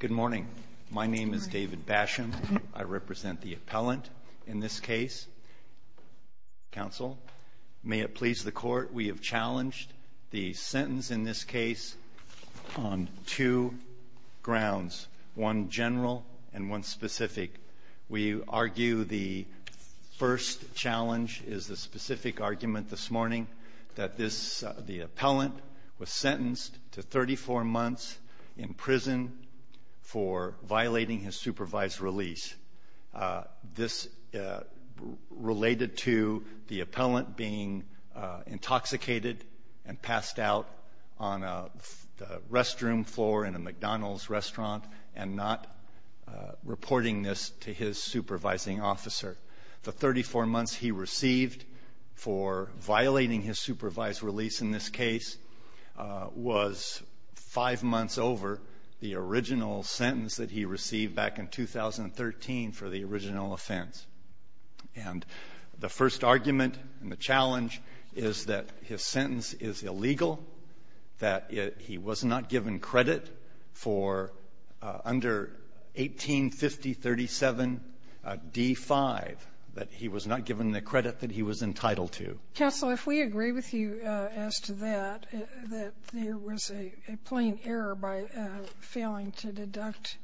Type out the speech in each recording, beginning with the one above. Good morning. My name is David Basham. I represent the appellant in this case. Counsel, may it please the Court, we have challenged the sentence in this case on two grounds, one general and one specific. We argue the first challenge is the specific argument this morning that this the appellant was sentenced to 34 months in prison for violating his supervised release. This related to the appellant being intoxicated and passed out on a restroom floor in a McDonald's restaurant and not reporting this to his supervising officer. The 34 months he received for violating his supervised release in this case was five months over the original sentence that he received back in 2013 for the original offense. And the first argument and the challenge is that his sentence is illegal, that he was not given credit for under 1850.37d.5, that he was not given the credit that he was entitled to. Sotomayor, if we agree with you as to that, that there was a plain error by failing to deduct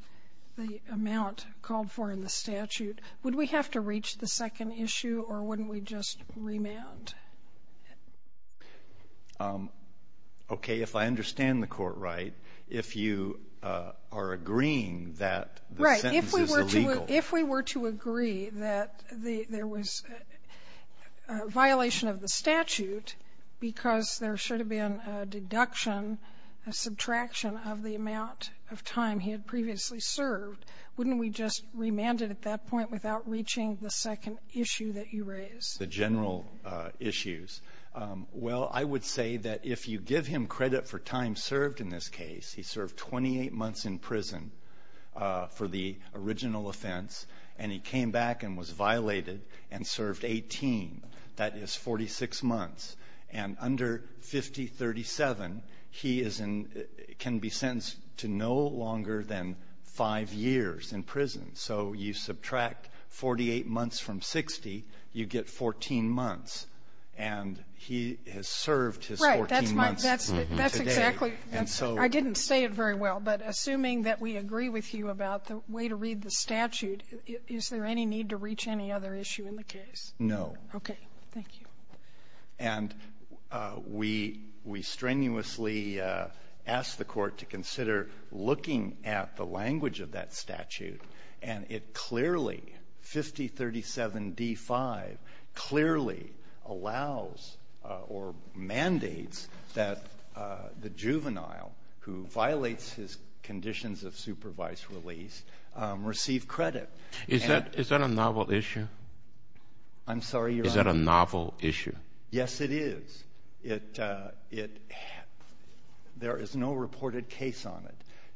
the amount called for in the statute, would we have to reach the second Okay. If I understand the Court right, if you are agreeing that the sentence is illegal Right. If we were to agree that there was a violation of the statute because there should have been a deduction, a subtraction of the amount of time he had previously served, wouldn't we just remand it at that point without reaching the second issue that you raise? The general issues. Well, I would say that if you give him credit for time served in this case, he served 28 months in prison for the original offense, and he came back and was violated and served 18. That is 46 months. And under 5037, he is in — can be sentenced to no longer than five years in prison. So you subtract 48 months from 60, you get 14 months. And he has served his 14 months today. Right. That's my — that's exactly — I didn't say it very well, but assuming that we agree with you about the way to read the statute, is there any need to reach any other issue in the case? No. Okay. Thank you. And we — we strenuously asked the Court to consider looking at the language of that statute. And it clearly, 5037d-5, clearly allows or mandates that the juvenile who violates his conditions of supervised release receive credit. Is that — is that a novel issue? I'm sorry, Your Honor? Is that a novel issue? Yes, it is. It — there is no reported case on it.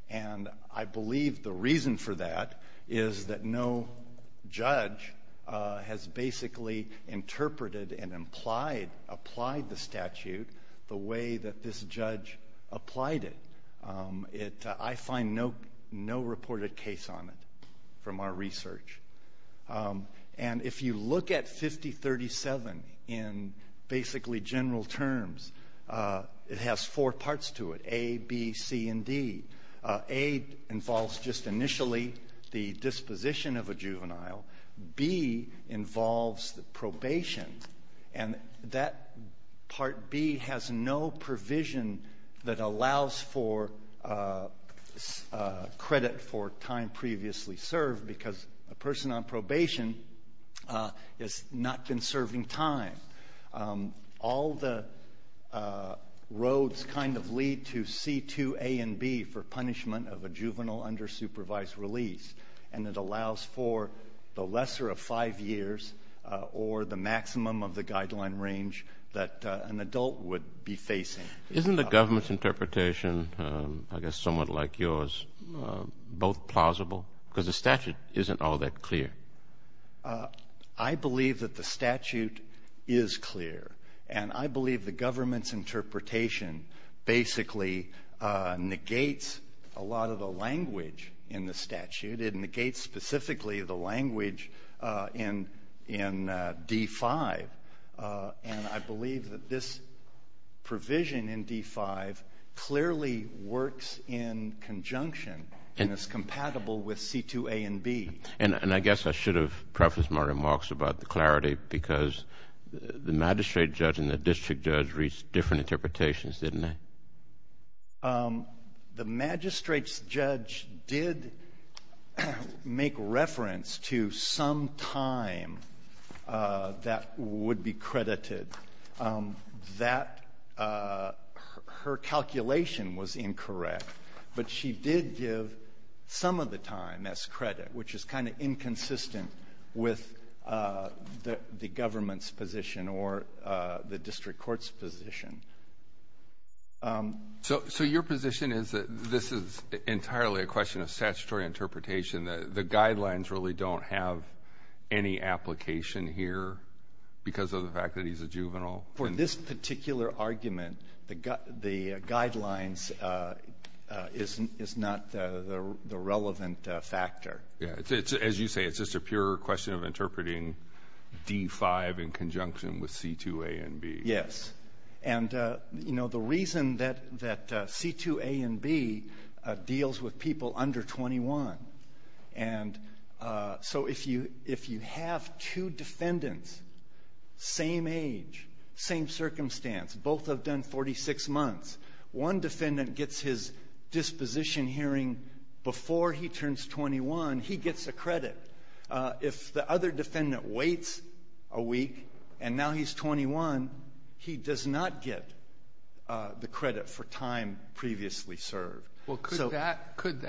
And I believe the reason for that is that no judge has basically interpreted and implied — applied the statute the way that this judge applied it. It — I find no — no reported case on it from our research. And if you look at 5037 in basically general terms, it has four parts to it, A, B, C, and D. A involves just initially the disposition of a juvenile. B involves the probation. And that part B has no provision that allows for credit for time previously served because a person on probation has not been serving time. All the roads kind of lead to C, 2, A, and B for punishment of a juvenile under supervised release. And it allows for the lesser of five years or the maximum of the guideline range that an adult would be facing. Isn't the government's interpretation, I guess somewhat like yours, both plausible? Because the statute isn't all that clear. I believe that the statute is clear. And I believe the government's interpretation basically negates a lot of the language in the statute. It negates specifically the language in D-5. And I believe that this provision in D-5 clearly works in conjunction and is compatible with C, 2, A, and B. And I guess I should have prefaced my remarks about the clarity because the magistrate judge and the district judge reached different interpretations, didn't they? The magistrate's judge did make reference to some time that would be credited. Her calculation was incorrect, but she did give some of the time as credit, which is kind of inconsistent with the government's position or the district court's position. So your position is that this is entirely a question of statutory interpretation, that the guidelines really don't have any application here because of the fact that he's a juvenile? For this particular argument, the guidelines is not the relevant factor. Yeah. As you say, it's just a pure question of interpreting D-5 in conjunction with C, 2, A, and B. Yes. And, you know, the reason that C, 2, A, and B deals with people under 21. And so if you have two defendants, same age, same circumstance, both have done 46 months, one defendant gets his disposition hearing before he turns 21, he gets a credit. If the other defendant waits a week and now he's 21, he does not get the credit for time previously served. Well, couldn't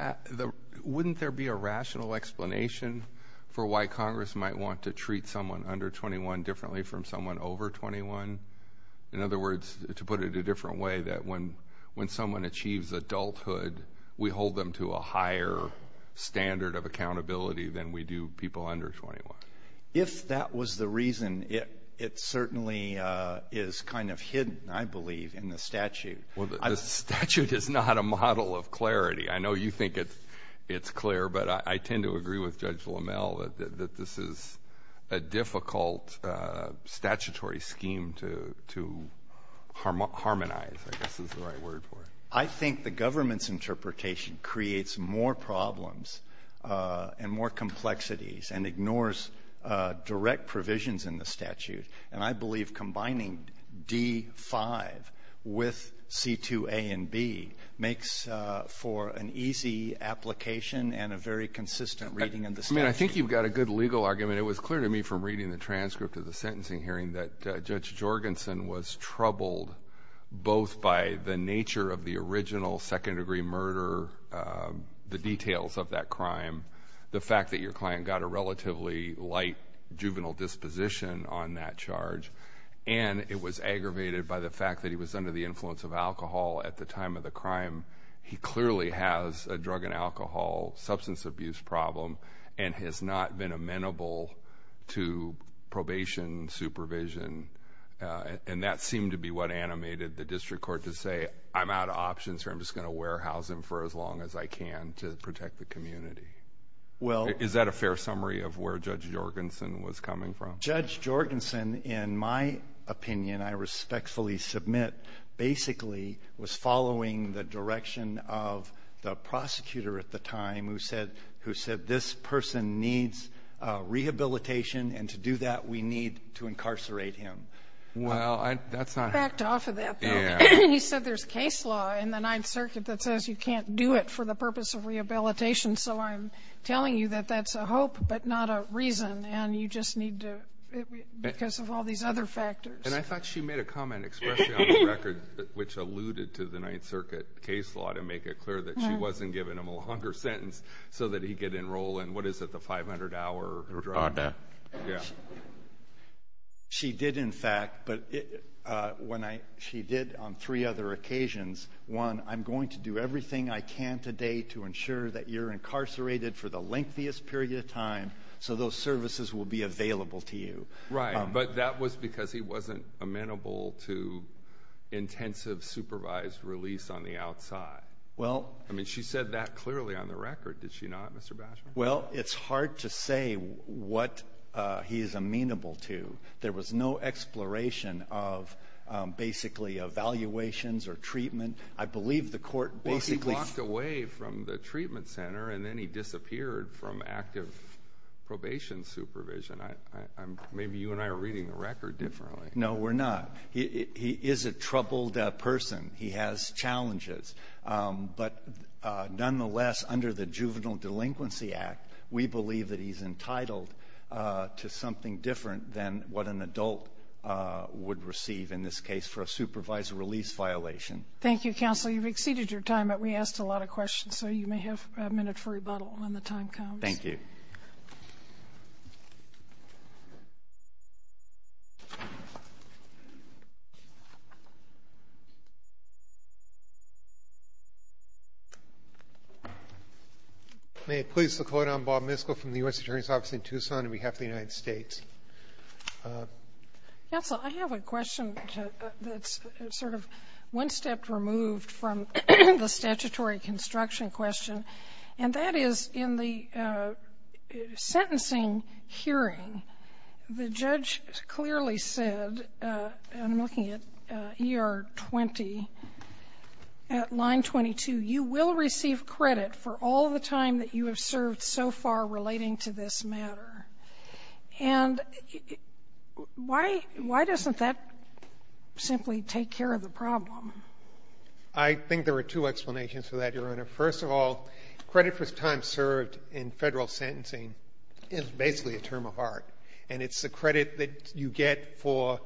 there be a rational explanation for why Congress might want to treat someone under 21 differently from someone over 21? In other words, to put it a different way, that when someone achieves adulthood, we hold them to a higher standard of accountability than we do people under 21. If that was the reason, it certainly is kind of hidden, I believe, in the statute. Well, the statute is not a model of clarity. I know you think it's clear, but I tend to agree with Judge Lamel that this is a difficult statutory scheme to harmonize, I guess is the right word for it. I think the government's interpretation creates more problems and more complexities and ignores direct provisions in the statute. And I believe combining D-5 with C-2A and B makes for an easy application and a very consistent reading in the statute. I mean, I think you've got a good legal argument. It was clear to me from reading the transcript of the sentencing hearing that Judge Jorgensen was troubled both by the nature of the original second-degree murder, the details of that crime, the fact that your client got a relatively light juvenile disposition on that charge, and it was aggravated by the fact that he was under the influence of alcohol at the time of the crime. He clearly has a drug and alcohol substance abuse problem and has not been amenable to probation, supervision. And that seemed to be what animated the district court to say, I'm out of options here. I'm just going to warehouse him for as long as I can to protect the community. Is that a fair summary of where Judge Jorgensen was coming from? Judge Jorgensen, in my opinion, I respectfully submit, basically was following the direction of the prosecutor at the time who said, this person needs rehabilitation, and to do that, we need to incarcerate him. Well, that's not ---- I backed off of that, though. You said there's case law in the Ninth Circuit that says you can't do it for the purpose of rehabilitation, so I'm telling you that that's a hope but not a reason, and you just need to ---- because of all these other factors. And I thought she made a comment, especially on the record, which alluded to the Ninth Circuit case law to make it clear that she wasn't giving him a longer sentence so that he could enroll in, what is it, the 500-hour drug? Yeah. She did, in fact, but when I ---- she did on three other occasions. One, I'm going to do everything I can today to ensure that you're incarcerated for the lengthiest period of time so those services will be available to you. Right. But that was because he wasn't amenable to intensive supervised release on the outside. Well ---- I mean, she said that clearly on the record, did she not, Mr. Basham? Well, it's hard to say what he is amenable to. There was no exploration of basically evaluations or treatment. I believe the court basically ---- Well, he walked away from the treatment center and then he disappeared from active probation supervision. I'm ---- maybe you and I are reading the record differently. No, we're not. He is a troubled person. He has challenges. But nonetheless, under the Juvenile Delinquency Act, we believe that he's entitled to something different than what an adult would receive in this case for a supervised release violation. Thank you, counsel. You've exceeded your time, but we asked a lot of questions, so you may have a minute for rebuttal when the time comes. Thank you. May it please the Court, I'm Bob Miskell from the U.S. Attorney's Office in Tucson on behalf of the United States. Counsel, I have a question that's sort of one step removed from the statutory construction question, and that is in the sentencing hearing, the judge clearly said, and I'm looking at ER 20, at line 22, you will receive credit for all the time that you have served so far relating to this matter. And why doesn't that simply take care of the problem? I think there are two explanations for that, Your Honor. First of all, credit for time served in Federal sentencing is basically a term of art. And it's the credit that you get for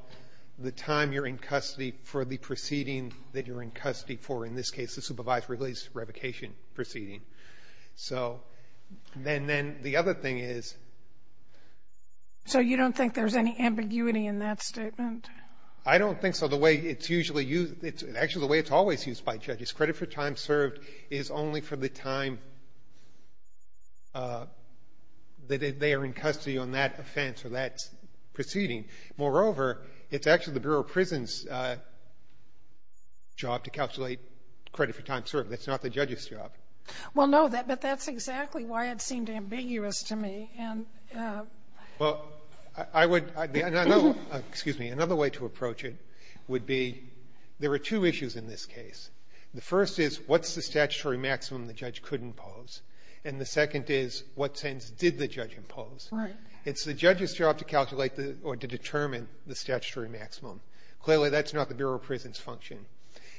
the time you're in custody for the proceeding that you're in custody for, in this case, the supervised release revocation proceeding. So then the other thing is ---- So you don't think there's any ambiguity in that statement? I don't think so. The way it's usually used, actually the way it's always used by judges, credit for time served is only for the time that they are in custody on that offense or that proceeding. Moreover, it's actually the Bureau of Prisons' job to calculate credit for time served. That's not the judge's job. Well, no, but that's exactly why it seemed ambiguous to me. Well, I would ---- excuse me. Another way to approach it would be there are two issues in this case. The first is, what's the statutory maximum the judge could impose? And the second is, what sentence did the judge impose? Right. It's the judge's job to calculate the or to determine the statutory maximum. Clearly, that's not the Bureau of Prisons' function.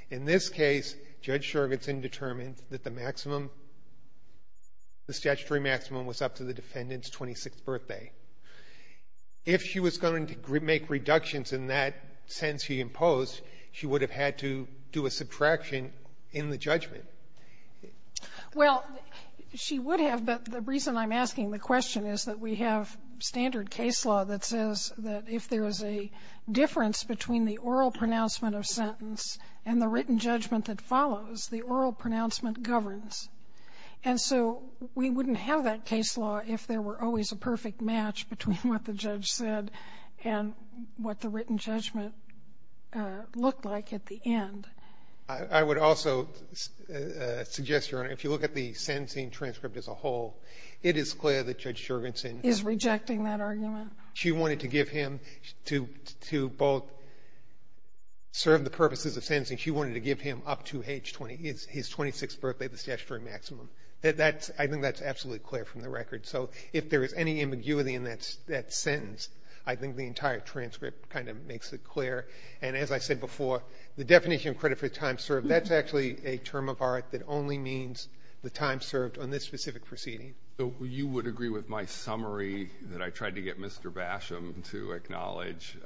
In this case, Judge Jorgensen determined that the maximum, the statutory maximum was up to the defendant's 26th birthday. If she was going to make reductions in that sentence he imposed, she would have had to do a subtraction in the judgment. Well, she would have, but the reason I'm asking the question is that we have standard case law that says that if there is a difference between the oral pronouncement of sentence and the written judgment that follows, the oral pronouncement governs. And so we wouldn't have that case law if there were always a perfect match between what the judge said and what the written judgment looked like at the end. I would also suggest, Your Honor, if you look at the sentencing transcript as a whole, it is clear that Judge Jorgensen is rejecting that argument. She wanted to give him to both serve the purposes of sentencing. She wanted to give him up to age 20, his 26th birthday, the statutory maximum. That's – I think that's absolutely clear from the record. So if there is any ambiguity in that sentence, I think the entire transcript kind of makes it clear. And as I said before, the definition of credit for time served, that's actually a term of art that only means the time served on this specific proceeding. So you would agree with my summary that I tried to get Mr. Basham to acknowledge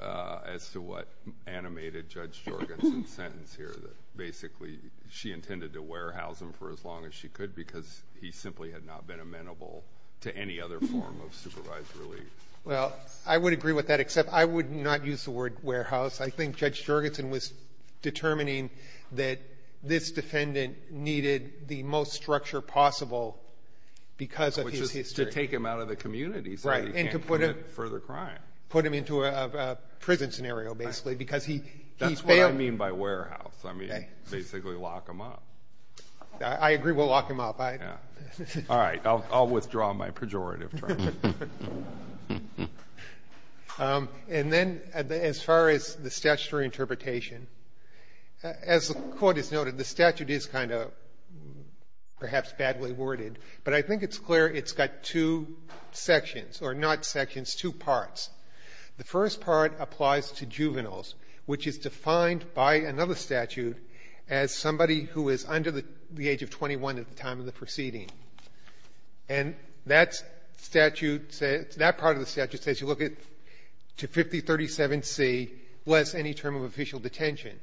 as to what animated Judge Jorgensen's sentence here, that basically she intended to warehouse him for as long as she could because he simply had not been amenable to any other form of supervised relief. Well, I would agree with that, except I would not use the word warehouse. I think Judge Jorgensen was determining that this defendant needed the most structure possible because of his history. Which is to take him out of the community so he can't commit further crime. Right, and to put him into a prison scenario, basically, because he failed – I agree. We'll lock him up. All right. I'll withdraw my pejorative. And then as far as the statutory interpretation, as the Court has noted, the statute is kind of perhaps badly worded, but I think it's clear it's got two sections or not sections, two parts. The first part applies to juveniles, which is defined by another statute as somebody who is under the age of 21 at the time of the proceeding. And that statute says – that part of the statute says you look at 5037C less any term of official detention.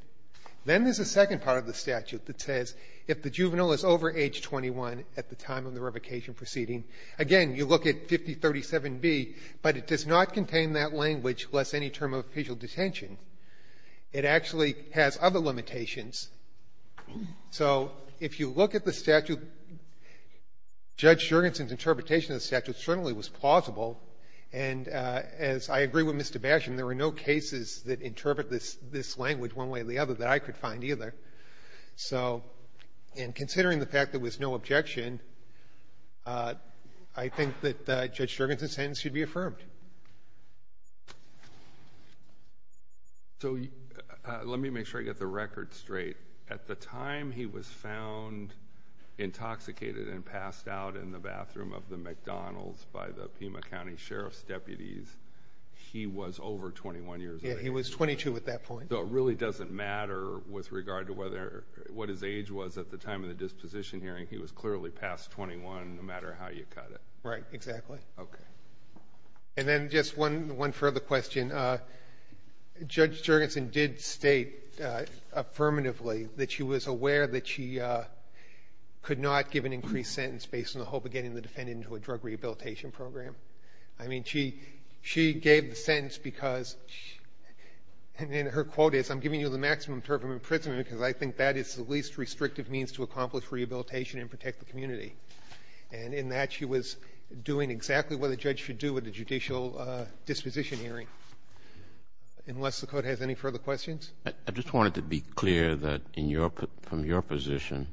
Then there's a second part of the statute that says if the juvenile is over age 21 at the time of the revocation proceeding, again, you look at 5037B, but it does not contain that language, less any term of official detention. It actually has other limitations. So if you look at the statute, Judge Jurgensen's interpretation of the statute certainly was plausible. And as I agree with Mr. Basham, there were no cases that interpret this language one way or the other that I could find either. So in considering the fact there was no objection, I think that Judge Jurgensen's sentence should be affirmed. Okay. So let me make sure I get the record straight. At the time he was found intoxicated and passed out in the bathroom of the McDonald's by the Pima County Sheriff's deputies, he was over 21 years old. Yeah, he was 22 at that point. So it really doesn't matter with regard to what his age was at the time of the disposition hearing. He was clearly past 21 no matter how you cut it. Right. Exactly. Okay. And then just one further question. Judge Jurgensen did state affirmatively that she was aware that she could not give an increased sentence based on the hope of getting the defendant into a drug rehabilitation program. I mean, she gave the sentence because, and her quote is, I'm giving you the maximum term of imprisonment because I think that is the least restrictive means to accomplish doing exactly what a judge should do at a judicial disposition hearing, unless the Court has any further questions. I just wanted to be clear that in your, from your position,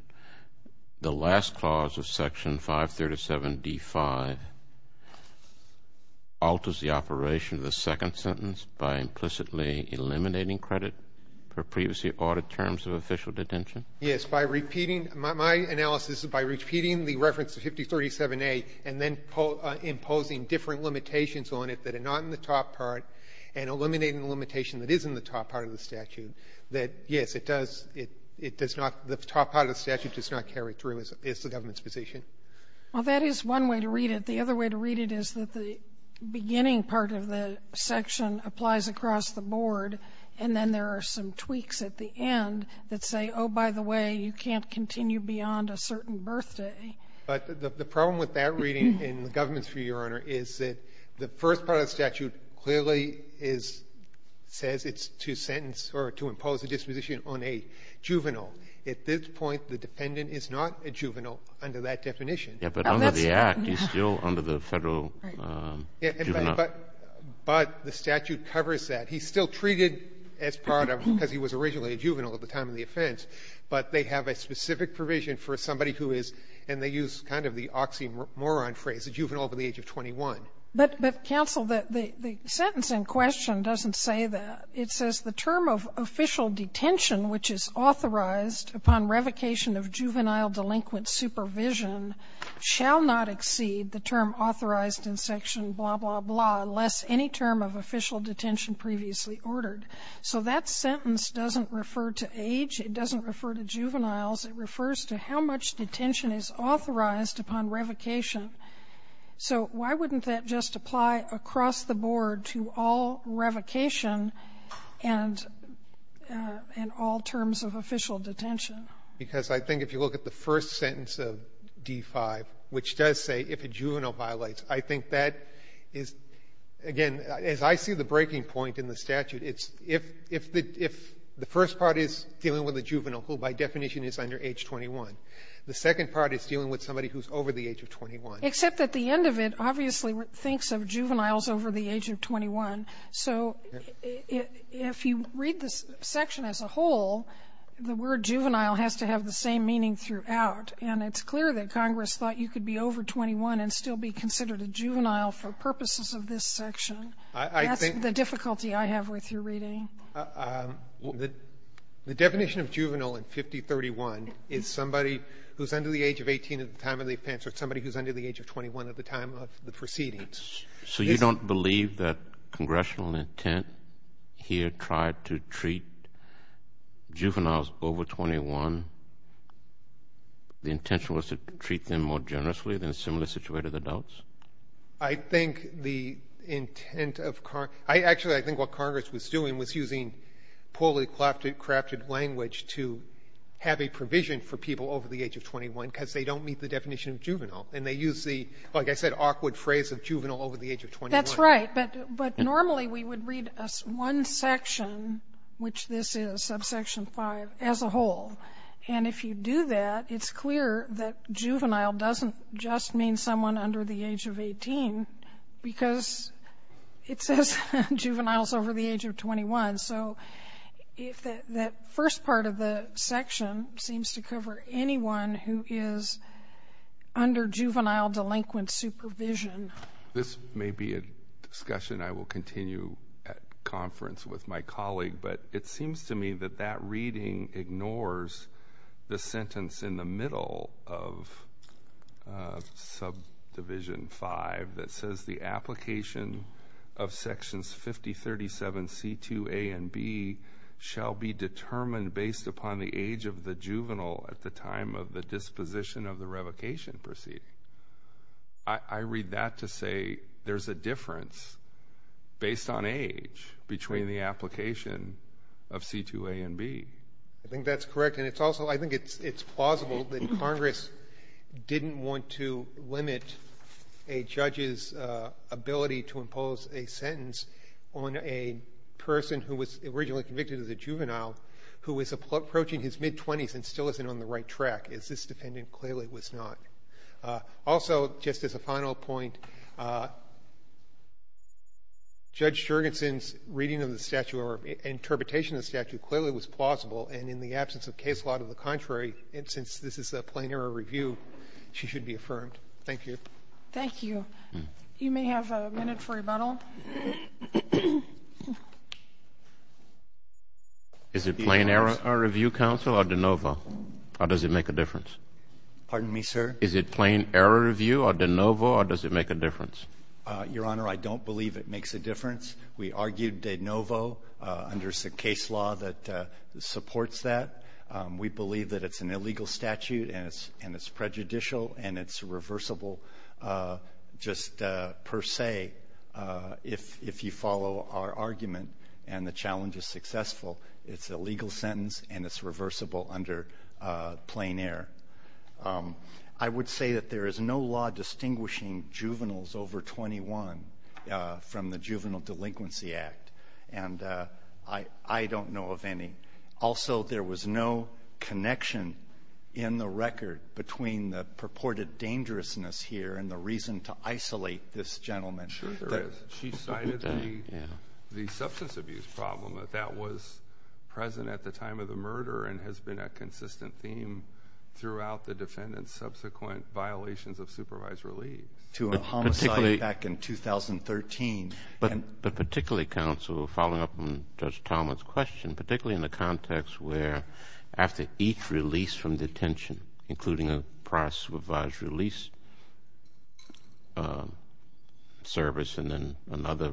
the last clause of Section 537d5 alters the operation of the second sentence by implicitly eliminating credit for previously ordered terms of official detention? Yes. My analysis is by repeating the reference to 5037a and then imposing different limitations on it that are not in the top part and eliminating the limitation that is in the top part of the statute, that, yes, it does, it does not, the top part of the statute does not carry through as the government's position. Well, that is one way to read it. The other way to read it is that the beginning part of the section applies across the board, and then there are some tweaks at the end that say, oh, by the way, you can't continue beyond a certain birthday. But the problem with that reading in the government's view, Your Honor, is that the first part of the statute clearly is, says it's to sentence or to impose a disposition on a juvenile. At this point, the defendant is not a juvenile under that definition. Yeah, but under the Act, he's still under the Federal Juvenile Act. But the statute covers that. He's still treated as part of, because he was originally a juvenile at the time of the offense, but they have a specific provision for somebody who is, and they use kind of the oxymoron phrase, a juvenile over the age of 21. But, counsel, the sentence in question doesn't say that. It says the term of official detention, which is authorized upon revocation of juvenile delinquent supervision, shall not exceed the term authorized in section blah, blah, blah, unless any term of official detention previously ordered. So that sentence doesn't refer to age. It doesn't refer to juveniles. It refers to how much detention is authorized upon revocation. So why wouldn't that just apply across the board to all revocation and all terms of official detention? Because I think if you look at the first sentence of D-5, which does say if a juvenile violates, I think that is, again, as I see the breaking point in the statute, it's if the first part is dealing with a juvenile who, by definition, is under age 21. The second part is dealing with somebody who's over the age of 21. Sotomayor, except at the end of it, obviously, it thinks of juveniles over the age of 21. So if you read the section as a whole, the word juvenile has to have the same meaning throughout. And it's clear that Congress thought you could be over 21 and still be considered a juvenile for purposes of this section. That's the difficulty I have with your reading. The definition of juvenile in 5031 is somebody who's under the age of 18 at the time of the offense or somebody who's under the age of 21 at the time of the proceedings. So you don't believe that congressional intent here tried to treat juveniles over 21? The intention was to treat them more generously than similar-situated adults? I think the intent of Car – I actually think what Congress was doing was using poorly crafted language to have a provision for people over the age of 21 because they don't meet the definition of juvenile. And they use the, like I said, awkward phrase of juvenile over the age of 21. That's right. But normally, we would read one section, which this is, subsection 5, as a whole. And if you do that, it's clear that juvenile doesn't just mean someone under the age of 18 because it says juveniles over the age of 21. So if that first part of the section seems to cover anyone who is under juvenile delinquent supervision. This may be a discussion I will continue at conference with my colleague, but it seems to me that that reading ignores the sentence in the middle of subdivision 5 that says the application of sections 5037C2A and B shall be determined based upon the age of the juvenile at the time of the disposition of the revocation proceeding. I read that to say there's a difference based on age between the application of C2A and B. I think that's correct. And it's also – I think it's plausible that Congress didn't want to limit a judge's ability to impose a sentence on a person who was originally convicted as a juvenile who is approaching his mid-20s and still isn't on the right Also, just as a final point, Judge Jurgensen's reading of the statute or interpretation of the statute clearly was plausible, and in the absence of case law to the contrary, since this is a plain-error review, she should be affirmed. Thank you. Thank you. You may have a minute for rebuttal. Is it plain-error review, counsel, or de novo? How does it make a difference? Pardon me, sir? Is it plain-error review or de novo, or does it make a difference? Your Honor, I don't believe it makes a difference. We argued de novo under the case law that supports that. We believe that it's an illegal statute and it's prejudicial and it's reversible just per se. If you follow our argument and the challenge is successful, it's a legal sentence and it's reversible under plain-error. I would say that there is no law distinguishing juveniles over 21 from the Juvenile Delinquency Act, and I don't know of any. Also, there was no connection in the record between the purported dangerousness here and the reason to isolate this gentleman. Sure there is. She cited the substance abuse problem, that that was present at the time of the murder and has been a consistent theme throughout the defendant's subsequent violations of supervised release. To a homicide back in 2013. But particularly, counsel, following up on Judge Talmadge's question, particularly in the context where after each release from detention, including a prior supervised release service and then another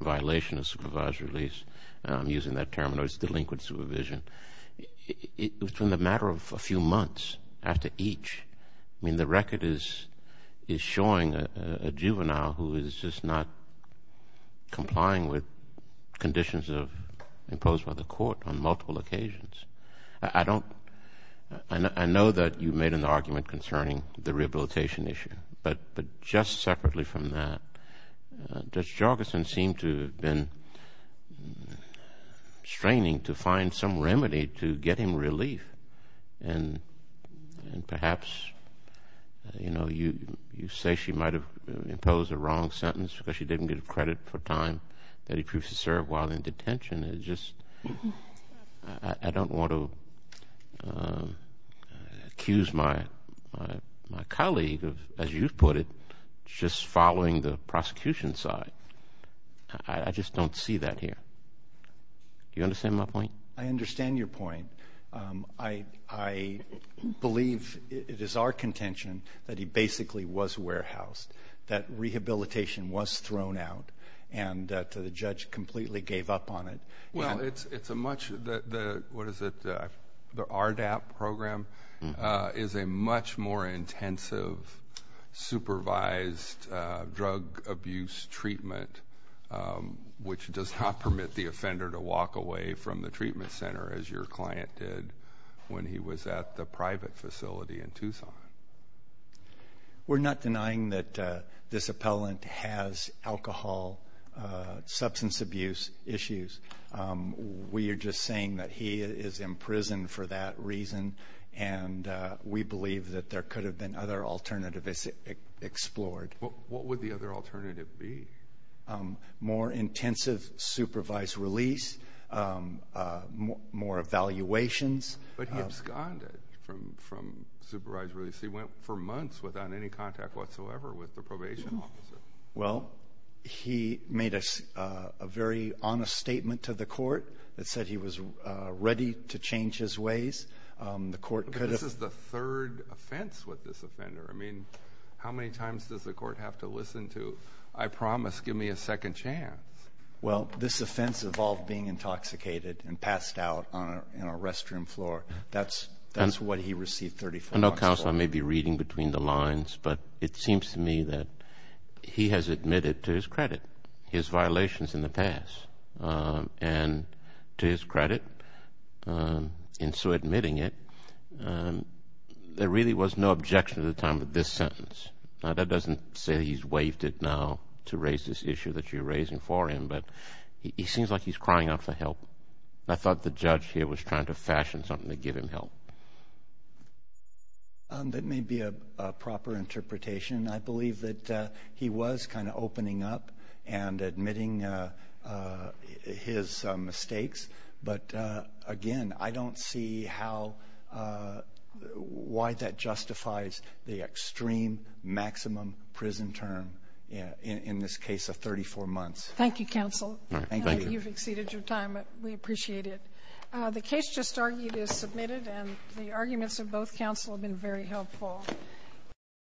violation of supervised release, and I'm using that term, delinquent supervision, it was in the matter of a few months after each. I mean, the record is showing a juvenile who is just not complying with conditions imposed by the court on multiple occasions. I know that you made an argument concerning the rehabilitation issue, but just separately from that, Judge Jogerson seemed to have been straining to find some remedy to get him relief. And perhaps, you know, you say she might have imposed a wrong sentence because she didn't get credit for time that he proved to serve while in of, as you put it, just following the prosecution side. I just don't see that here. Do you understand my point? I understand your point. I believe it is our contention that he basically was warehoused, that rehabilitation was thrown out, and that the judge completely gave up on it. Well, it's a much, what is it, the RDAP program is a much more intensive supervised drug abuse treatment, which does not permit the offender to walk away from the treatment center as your client did when he was at the private facility in Tucson. We're not denying that this appellant has alcohol substance abuse issues. We are just saying that he is in prison for that reason, and we believe that there could have been other alternatives explored. What would the other alternative be? More intensive supervised release, more evaluations. But he absconded from supervised release. He went for months without any contact whatsoever with the probation officer. Well, he made a very honest statement to the court that said he was ready to change his ways. But this is the third offense with this offender. I mean, how many times does the court have to listen to, I promise, give me a second chance? Well, this offense involved being intoxicated and passed out on a restroom floor. That's what he received 34 months for. I know, counsel, I may be reading between the lines, but it seems to me that he has admitted to his credit his violations in the past. And to his credit, in so admitting it, there really was no objection at the time of this sentence. Now, that doesn't say he's waived it now to raise this issue that you're raising for him, but he seems like he's crying out for help. I thought the judge here was trying to fashion something to give him help. That may be a proper interpretation. I believe that he was kind of opening up and admitting his mistakes. But again, I don't see how why that justifies the extreme maximum prison term in this case of 34 months. Thank you, counsel. You've exceeded your time. We appreciate it. The case just argued is submitted, and the arguments of both counsel have been very helpful.